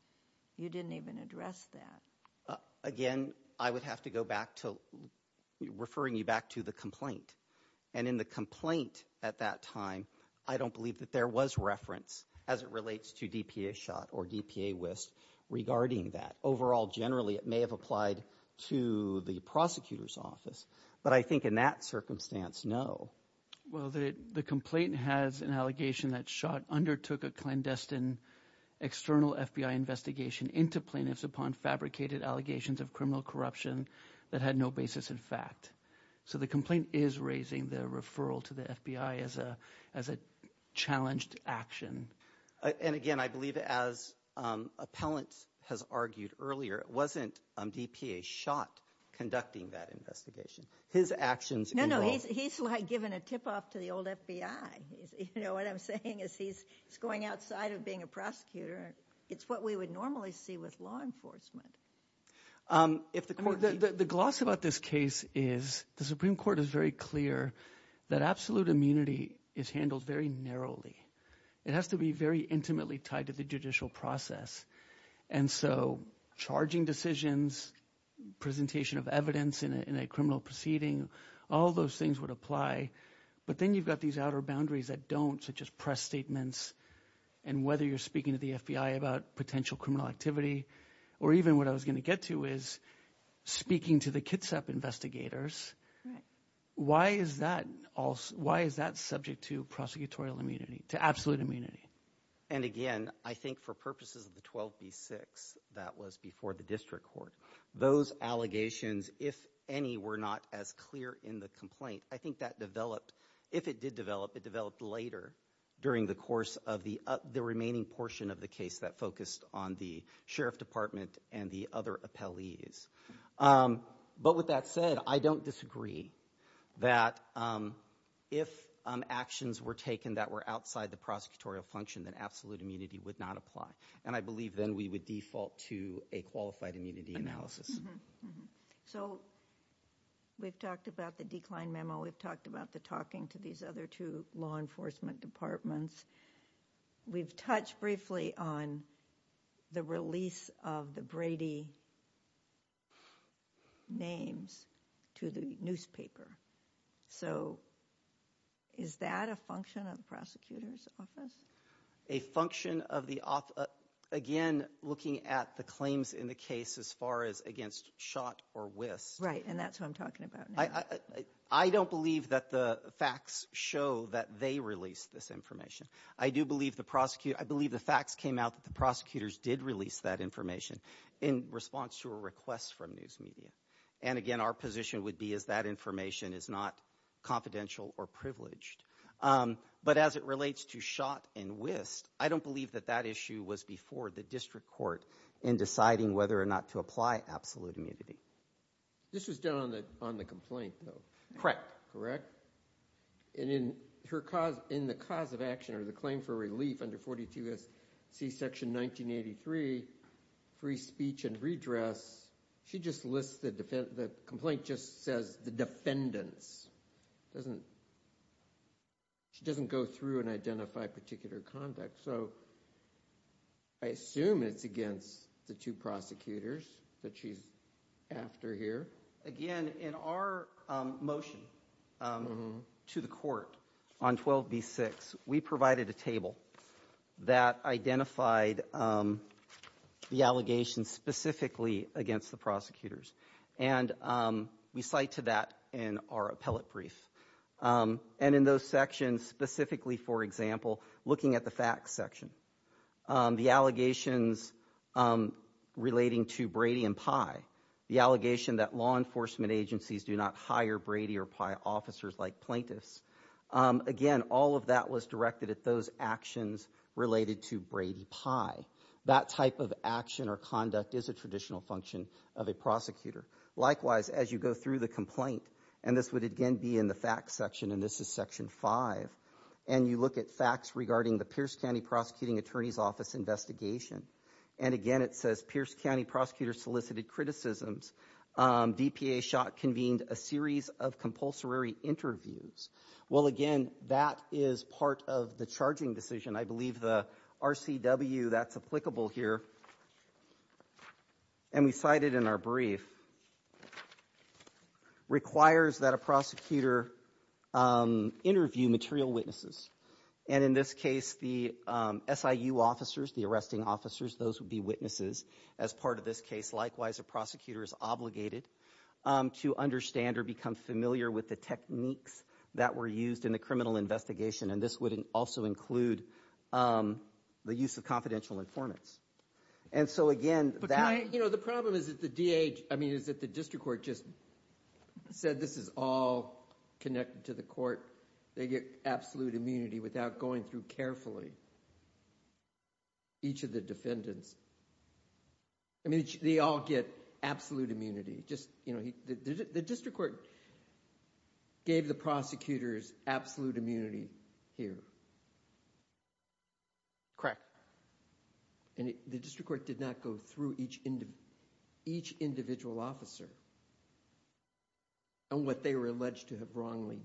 you didn't even address that. Again, I would have to go back to referring you back to the complaint. And in the complaint at that time, I don't believe that there was reference, as it relates to DPA Schott or DPA Wist, regarding that. Overall, generally, it may have applied to the prosecutor's office. But I think in that circumstance, no. Well, the complaint has an allegation that Schott undertook a clandestine external FBI investigation into plaintiffs upon fabricated allegations of criminal corruption that had no basis in fact. So the complaint is raising the referral to the FBI as a challenged action. And again, I believe as appellant has argued earlier, it wasn't DPA Schott conducting that investigation. His actions involved. No, no, he's like giving a tip-off to the old FBI. You know what I'm saying is he's going outside of being a prosecutor. It's what we would normally see with law enforcement. The gloss about this case is the Supreme Court is very clear that absolute immunity is handled very narrowly. It has to be very intimately tied to the judicial process. And so charging decisions, presentation of evidence in a criminal proceeding, all those things would apply. But then you've got these outer boundaries that don't, such as press statements and whether you're speaking to the FBI about potential criminal activity or even what I was going to get to is speaking to the Kitsap investigators. Why is that subject to prosecutorial immunity, to absolute immunity? And again, I think for purposes of the 12B6 that was before the district court, those allegations, if any, were not as clear in the complaint. I think that developed. If it did develop, it developed later during the course of the remaining portion of the case that focused on the sheriff department and the other appellees. But with that said, I don't disagree that if actions were taken that were outside the prosecutorial function, that absolute immunity would not apply. And I believe then we would default to a qualified immunity analysis. So we've talked about the decline memo. We've talked about the talking to these other two law enforcement departments. We've touched briefly on the release of the Brady names to the newspaper. So is that a function of the prosecutor's office? A function of the office. Again, looking at the claims in the case as far as against Schott or Wist. Right, and that's who I'm talking about now. I don't believe that the facts show that they released this information. I do believe the prosecutor, I believe the facts came out that the prosecutors did release that information in response to a request from news media. And again, our position would be is that information is not confidential or privileged. But as it relates to Schott and Wist, I don't believe that that issue was before the district court in deciding whether or not to apply absolute immunity. This was done on the complaint though. And in the cause of action or the claim for relief under 42SC section 1983, free speech and redress, she just lists the defendant, the complaint just says the defendants. She doesn't go through and identify particular conduct. So I assume it's against the two prosecutors that she's after here. Again, in our motion to the court on 12B6, we provided a table that identified the allegations specifically against the prosecutors. And we cite to that in our appellate brief. And in those sections, specifically, for example, looking at the facts section, the allegations relating to Brady and Pye, the allegation that law enforcement agencies do not hire Brady or Pye officers like plaintiffs. Again, all of that was directed at those actions related to Brady Pye. That type of action or conduct is a traditional function of a prosecutor. Likewise, as you go through the complaint, and this would again be in the facts section, and this is section five, and you look at facts regarding the Pierce County Prosecuting Attorney's Office investigation. And again, it says Pierce County prosecutors solicited criticisms. DPA shot convened a series of compulsory interviews. Well, again, that is part of the charging decision. I believe the RCW, that's applicable here. And we cited in our brief requires that a prosecutor interview material witnesses. And in this case, the SIU officers, the arresting officers, those would be witnesses as part of this case. Likewise, a prosecutor is obligated to understand or become familiar with the techniques that were used in the criminal investigation. And this would also include the use of confidential informants. And so, again, that – But can I – you know, the problem is that the DA – I mean, is that the district court just said this is all connected to the court. They get absolute immunity without going through carefully each of the defendants. I mean, they all get absolute immunity. Just, you know, the district court gave the prosecutors absolute immunity here. Correct. And the district court did not go through each individual officer on what they were alleged to have wrongly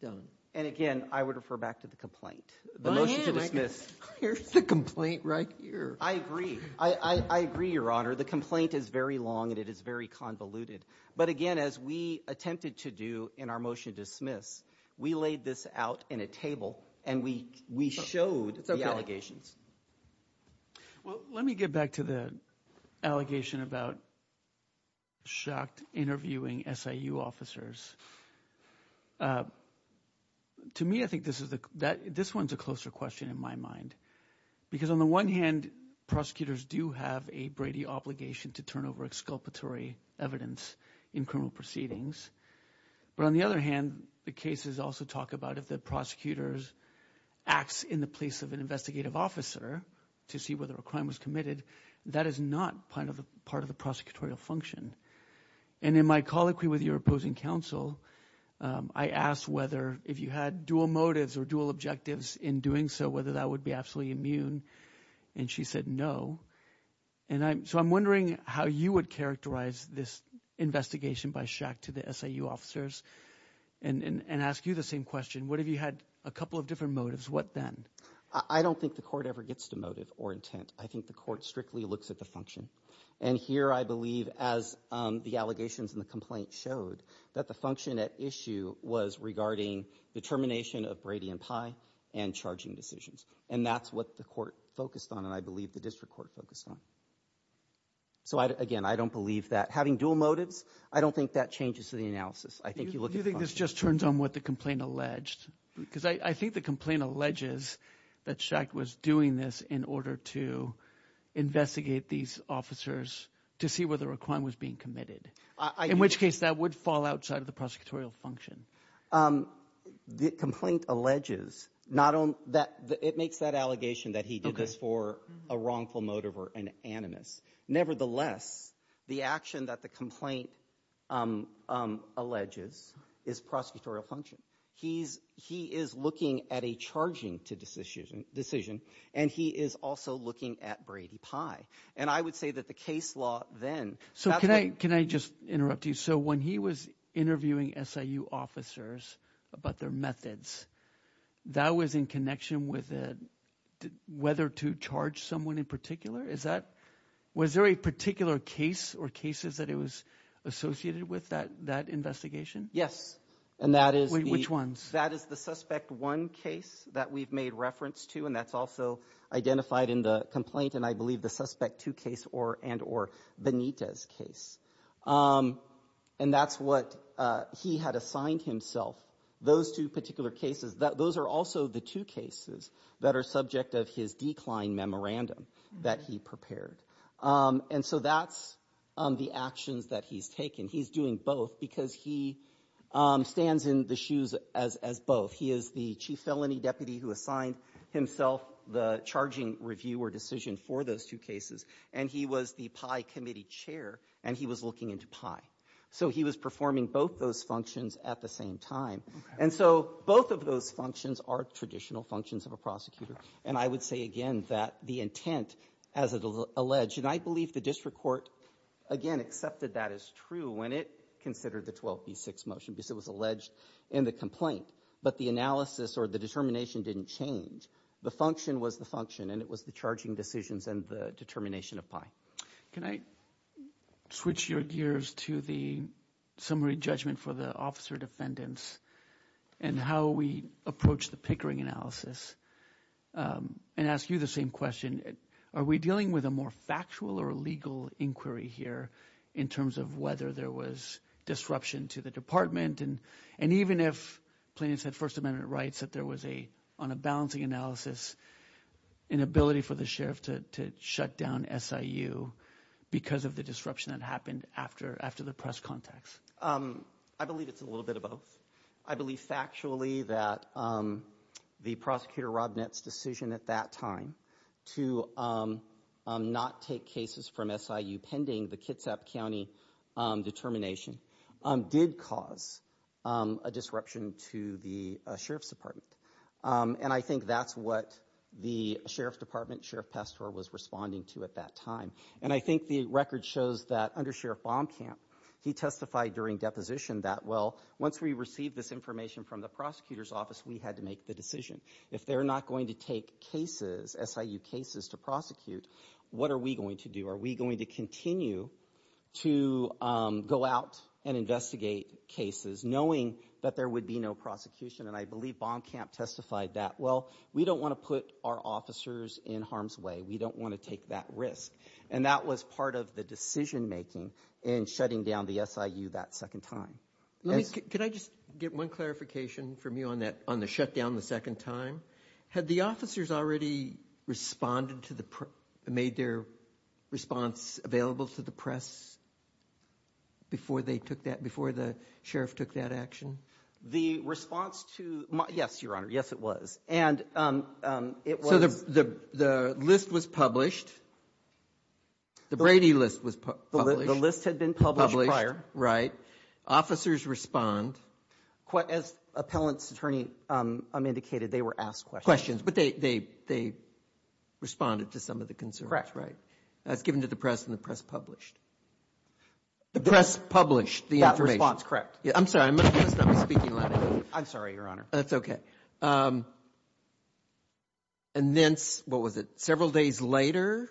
done. And again, I would refer back to the complaint. The motion to dismiss. Here's the complaint right here. I agree. I agree, Your Honor. The complaint is very long and it is very convoluted. But again, as we attempted to do in our motion to dismiss, we laid this out in a table and we showed the allegations. Well, let me get back to the allegation about Schacht interviewing SIU officers. To me, I think this is – this one is a closer question in my mind because on the one hand, prosecutors do have a Brady obligation to turn over exculpatory evidence in criminal proceedings. But on the other hand, the cases also talk about if the prosecutor acts in the place of an investigative officer to see whether a crime was committed, that is not part of the prosecutorial function. And in my colloquy with your opposing counsel, I asked whether if you had dual motives or dual objectives in doing so, whether that would be absolutely immune. And she said no. And so I'm wondering how you would characterize this investigation by Schacht to the SIU officers and ask you the same question. What if you had a couple of different motives? What then? I don't think the court ever gets to motive or intent. I think the court strictly looks at the function. And here I believe, as the allegations in the complaint showed, that the function at issue was regarding the termination of Brady and Pye and charging decisions. And that's what the court focused on and I believe the district court focused on. So, again, I don't believe that. Having dual motives, I don't think that changes the analysis. I think you look at the function. It just turns on what the complaint alleged because I think the complaint alleges that Schacht was doing this in order to investigate these officers to see whether a crime was being committed. In which case that would fall outside of the prosecutorial function. The complaint alleges not on that. It makes that allegation that he did this for a wrongful motive or an animus. Nevertheless, the action that the complaint alleges is prosecutorial function. He is looking at a charging decision and he is also looking at Brady Pye. And I would say that the case law then – So can I just interrupt you? So when he was interviewing SIU officers about their methods, that was in connection with whether to charge someone in particular? Is that – was there a particular case or cases that it was associated with that investigation? Yes. And that is the – Which ones? That is the Suspect 1 case that we've made reference to and that's also identified in the complaint and I believe the Suspect 2 case and or Benitez case. And that's what he had assigned himself, those two particular cases. Those are also the two cases that are subject of his decline memorandum that he prepared. And so that's the actions that he's taken. He's doing both because he stands in the shoes as both. He is the chief felony deputy who assigned himself the charging review or decision for those two cases. And he was the Pye committee chair and he was looking into Pye. So he was performing both those functions at the same time. And so both of those functions are traditional functions of a prosecutor. And I would say again that the intent, as alleged, and I believe the district court, again, accepted that as true when it considered the 12B6 motion because it was alleged in the complaint. But the analysis or the determination didn't change. The function was the function and it was the charging decisions and the determination of Pye. Can I switch your gears to the summary judgment for the officer defendants and how we approach the Pickering analysis and ask you the same question? Are we dealing with a more factual or legal inquiry here in terms of whether there was disruption to the department? And even if plaintiffs had First Amendment rights, that there was a, on a balancing analysis, an ability for the sheriff to shut down SIU because of the disruption that happened after the press contacts? I believe it's a little bit of both. I believe factually that the prosecutor Rob Nett's decision at that time to not take cases from SIU pending the Kitsap County determination did cause a disruption to the sheriff's department. And I think that's what the sheriff's department, Sheriff Pastore, was responding to at that time. And I think the record shows that under Sheriff Baumkamp, he testified during deposition that, well, once we received this information from the prosecutor's office, we had to make the decision. If they're not going to take cases, SIU cases to prosecute, what are we going to do? Are we going to continue to go out and investigate cases knowing that there would be no prosecution? And I believe Baumkamp testified that, well, we don't want to put our officers in harm's way. We don't want to take that risk. And that was part of the decision making in shutting down the SIU that second time. Let me, could I just get one clarification from you on that, on the shutdown the second time? Had the officers already responded to the, made their response available to the press before they took that, before the sheriff took that action? The response to, yes, Your Honor, yes, it was. And it was. So the list was published. The Brady list was published. The list had been published prior. Officers respond. As appellant's attorney indicated, they were asked questions. But they responded to some of the concerns. Correct. Right. That's given to the press and the press published. The press published the information. That response, correct. I'm sorry. I'm going to stop speaking loudly. I'm sorry, Your Honor. That's okay. And then, what was it, several days later?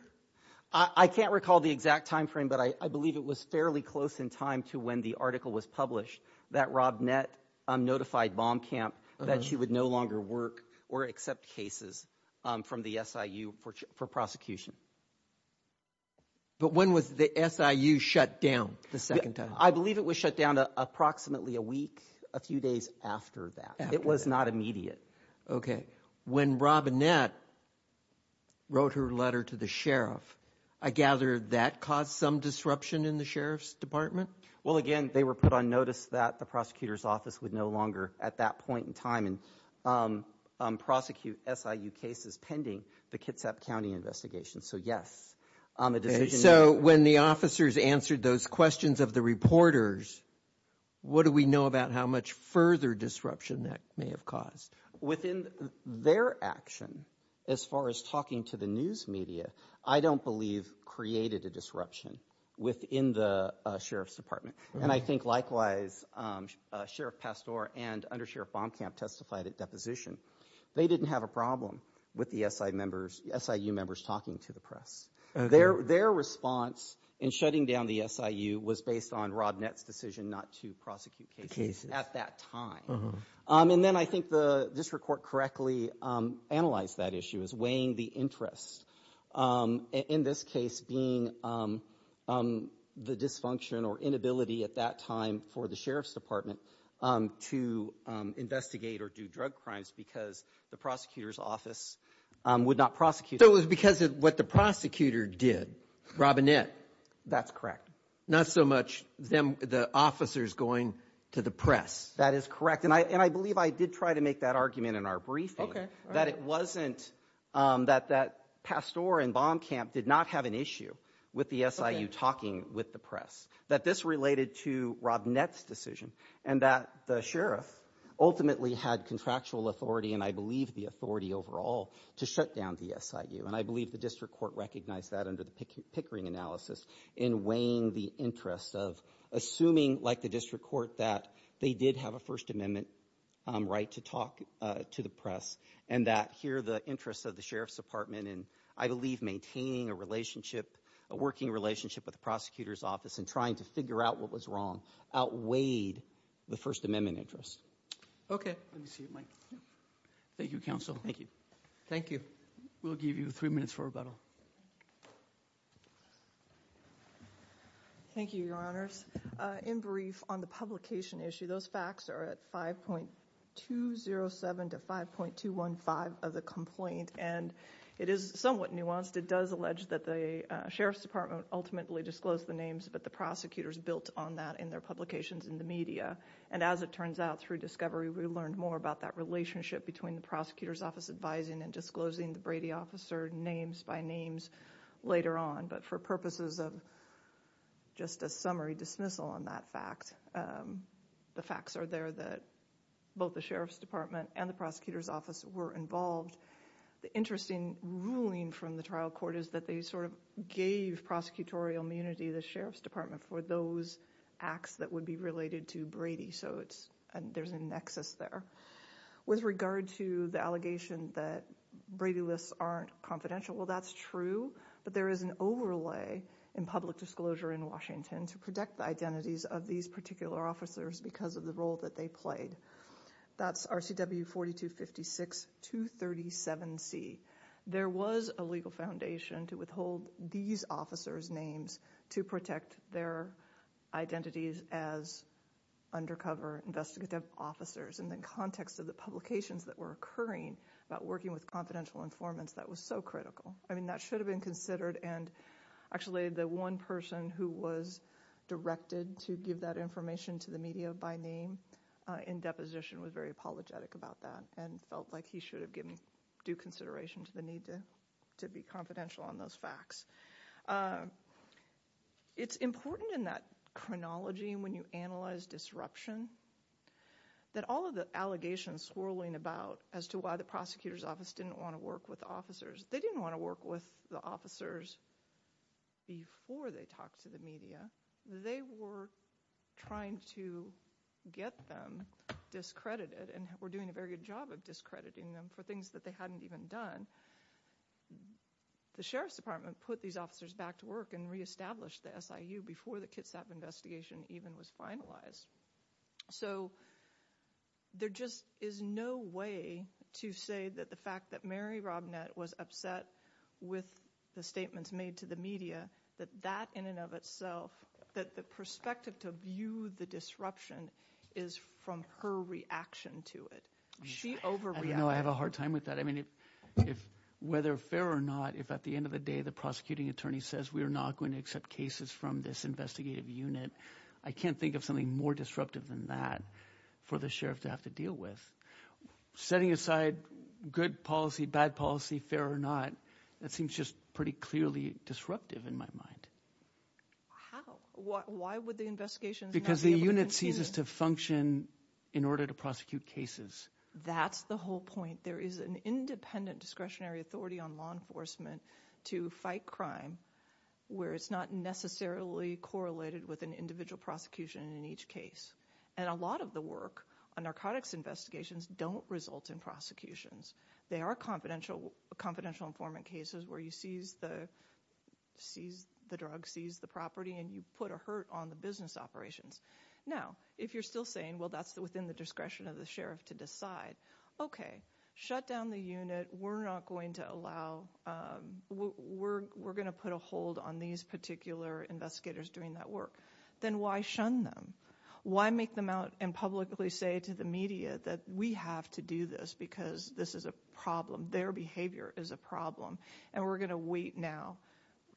I can't recall the exact time frame, but I believe it was fairly close in time to when the article was published that Rob Nett notified Baumkamp that she would no longer work or accept cases from the SIU for prosecution. But when was the SIU shut down the second time? I believe it was shut down approximately a week, a few days after that. It was not immediate. Okay. When Rob Nett wrote her letter to the sheriff, I gather that caused some disruption in the sheriff's department? Well, again, they were put on notice that the prosecutor's office would no longer, at that point in time, prosecute SIU cases pending the Kitsap County investigation. So, yes. So, when the officers answered those questions of the reporters, what do we know about how much further disruption that may have caused? Within their action, as far as talking to the news media, I don't believe created a disruption within the sheriff's department. And I think, likewise, Sheriff Pastore and Under Sheriff Baumkamp testified at deposition. They didn't have a problem with the SIU members talking to the press. Their response in shutting down the SIU was based on Rob Nett's decision not to prosecute cases at that time. And then I think the district court correctly analyzed that issue as weighing the interest. In this case, being the dysfunction or inability at that time for the sheriff's department to investigate or do drug crimes because the prosecutor's office would not prosecute. So, it was because of what the prosecutor did, Rob Nett. That's correct. Not so much the officers going to the press. That is correct. And I believe I did try to make that argument in our briefing. That it wasn't that Pastore and Baumkamp did not have an issue with the SIU talking with the press. That this related to Rob Nett's decision. And that the sheriff ultimately had contractual authority, and I believe the authority overall, to shut down the SIU. And I believe the district court recognized that under the Pickering analysis in weighing the interest of assuming, like the district court, that they did have a First Amendment right to talk to the press. And that here the interest of the sheriff's department in, I believe, maintaining a relationship, a working relationship with the prosecutor's office and trying to figure out what was wrong outweighed the First Amendment interest. Okay. Let me see your mic. Thank you, counsel. Thank you. Thank you. We'll give you three minutes for rebuttal. Thank you, your honors. In brief, on the publication issue, those facts are at 5.207 to 5.215 of the complaint. And it is somewhat nuanced. It does allege that the sheriff's department ultimately disclosed the names, but the prosecutors built on that in their publications in the media. And as it turns out, through discovery, we learned more about that relationship between the prosecutor's office advising and disclosing the Brady officer names by names later on. But for purposes of just a summary dismissal on that fact, the facts are there that both the sheriff's department and the prosecutor's office were involved. The interesting ruling from the trial court is that they sort of gave prosecutorial immunity to the sheriff's department for those acts that would be related to Brady. So there's a nexus there. With regard to the allegation that Brady lists aren't confidential, well, that's true. But there is an overlay in public disclosure in Washington to protect the identities of these particular officers because of the role that they played. That's RCW 4256-237C. There was a legal foundation to withhold these officers' names to protect their identities as undercover investigative officers. And the context of the publications that were occurring about working with confidential informants, that was so critical. I mean, that should have been considered. And actually, the one person who was directed to give that information to the media by name in deposition was very apologetic about that and felt like he should have given due consideration to the need to be confidential on those facts. It's important in that chronology when you analyze disruption that all of the allegations swirling about as to why the prosecutor's office didn't want to work with the officers, they didn't want to work with the officers before they talked to the media. They were trying to get them discredited and were doing a very good job of discrediting them for things that they hadn't even done. The Sheriff's Department put these officers back to work and reestablished the SIU before the Kitsap investigation even was finalized. So there just is no way to say that the fact that Mary Robnett was upset with the statements made to the media, that that in and of itself, that the perspective to view the disruption is from her reaction to it. She overreacted. I have a hard time with that. I mean, whether fair or not, if at the end of the day the prosecuting attorney says we are not going to accept cases from this investigative unit, I can't think of something more disruptive than that for the sheriff to have to deal with. Setting aside good policy, bad policy, fair or not, that seems just pretty clearly disruptive in my mind. How? Why would the investigations not be able to continue? Because the unit ceases to function in order to prosecute cases. That's the whole point. There is an independent discretionary authority on law enforcement to fight crime where it's not necessarily correlated with an individual prosecution in each case. And a lot of the work on narcotics investigations don't result in prosecutions. There are confidential informant cases where you seize the drug, seize the property, and you put a hurt on the business operations. Now, if you're still saying, well, that's within the discretion of the sheriff to decide, okay, shut down the unit. We're not going to allow, we're going to put a hold on these particular investigators doing that work. Then why shun them? Why make them out and publicly say to the media that we have to do this because this is a problem, their behavior is a problem, and we're going to wait now.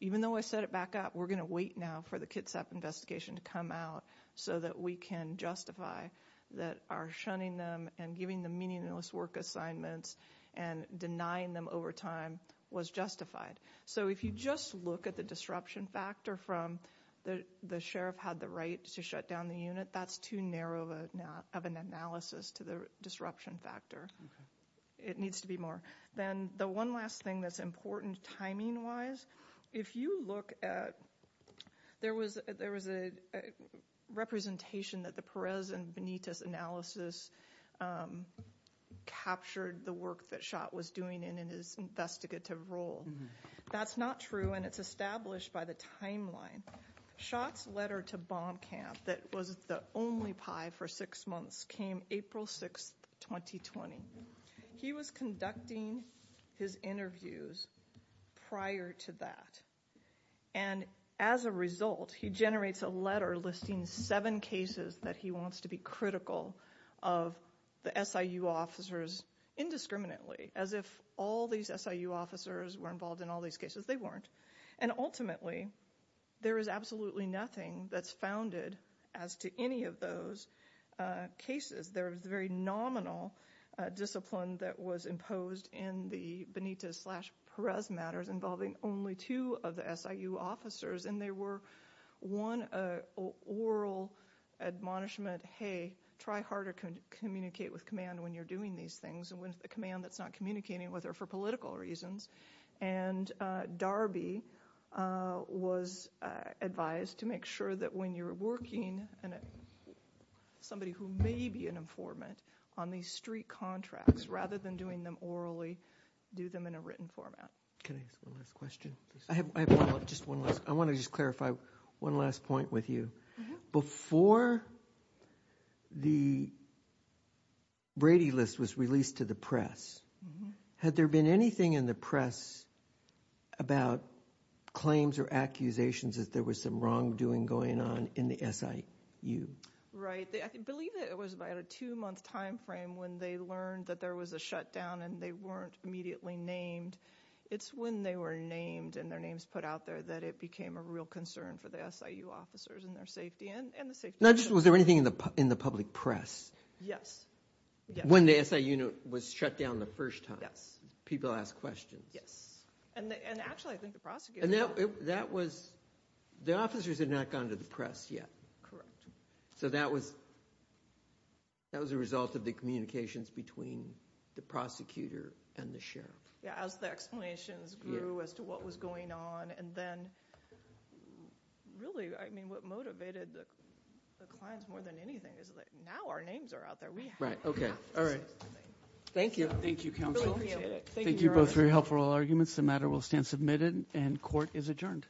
Even though I set it back up, we're going to wait now for the Kitsap investigation to come out so that we can justify that our shunning them and giving them meaningless work assignments and denying them over time was justified. So if you just look at the disruption factor from the sheriff had the right to shut down the unit, that's too narrow of an analysis to the disruption factor. It needs to be more. Then the one last thing that's important timing-wise, if you look at, there was a representation that the Perez and Benitez analysis captured the work that Schott was doing in his investigative role. That's not true, and it's established by the timeline. Schott's letter to bomb camp that was the only pie for six months came April 6th, 2020. He was conducting his interviews prior to that, and as a result, he generates a letter listing seven cases that he wants to be critical of the SIU officers indiscriminately, as if all these SIU officers were involved in all these cases. They weren't. Ultimately, there is absolutely nothing that's founded as to any of those cases. There was very nominal discipline that was imposed in the Benitez slash Perez matters involving only two of the SIU officers, and there were one oral admonishment, try harder to communicate with command when you're doing these things, and with a command that's not communicating with her for political reasons. Darby was advised to make sure that when you're working with somebody who may be an informant on these street contracts, rather than doing them orally, do them in a written format. Can I ask one last question? I have just one last. I want to just clarify one last point with you. Before the Brady List was released to the press, had there been anything in the press about claims or accusations that there was some wrongdoing going on in the SIU? Right. I believe it was about a two-month time frame when they learned that there was a shutdown and they weren't immediately named. It's when they were named and their names put out there that it became a real concern for the SIU officers and their safety. Was there anything in the public press? Yes. When the SIU was shut down the first time. People asked questions. Yes. Actually, I think the prosecutor… The officers had not gone to the press yet. Correct. That was a result of the communications between the prosecutor and the sheriff. As the explanations grew as to what was going on and then really what motivated the clients more than anything is that now our names are out there. Right. Okay. All right. Thank you. Thank you, counsel. Thank you both for your helpful arguments. The matter will stand submitted and court is adjourned. All rise.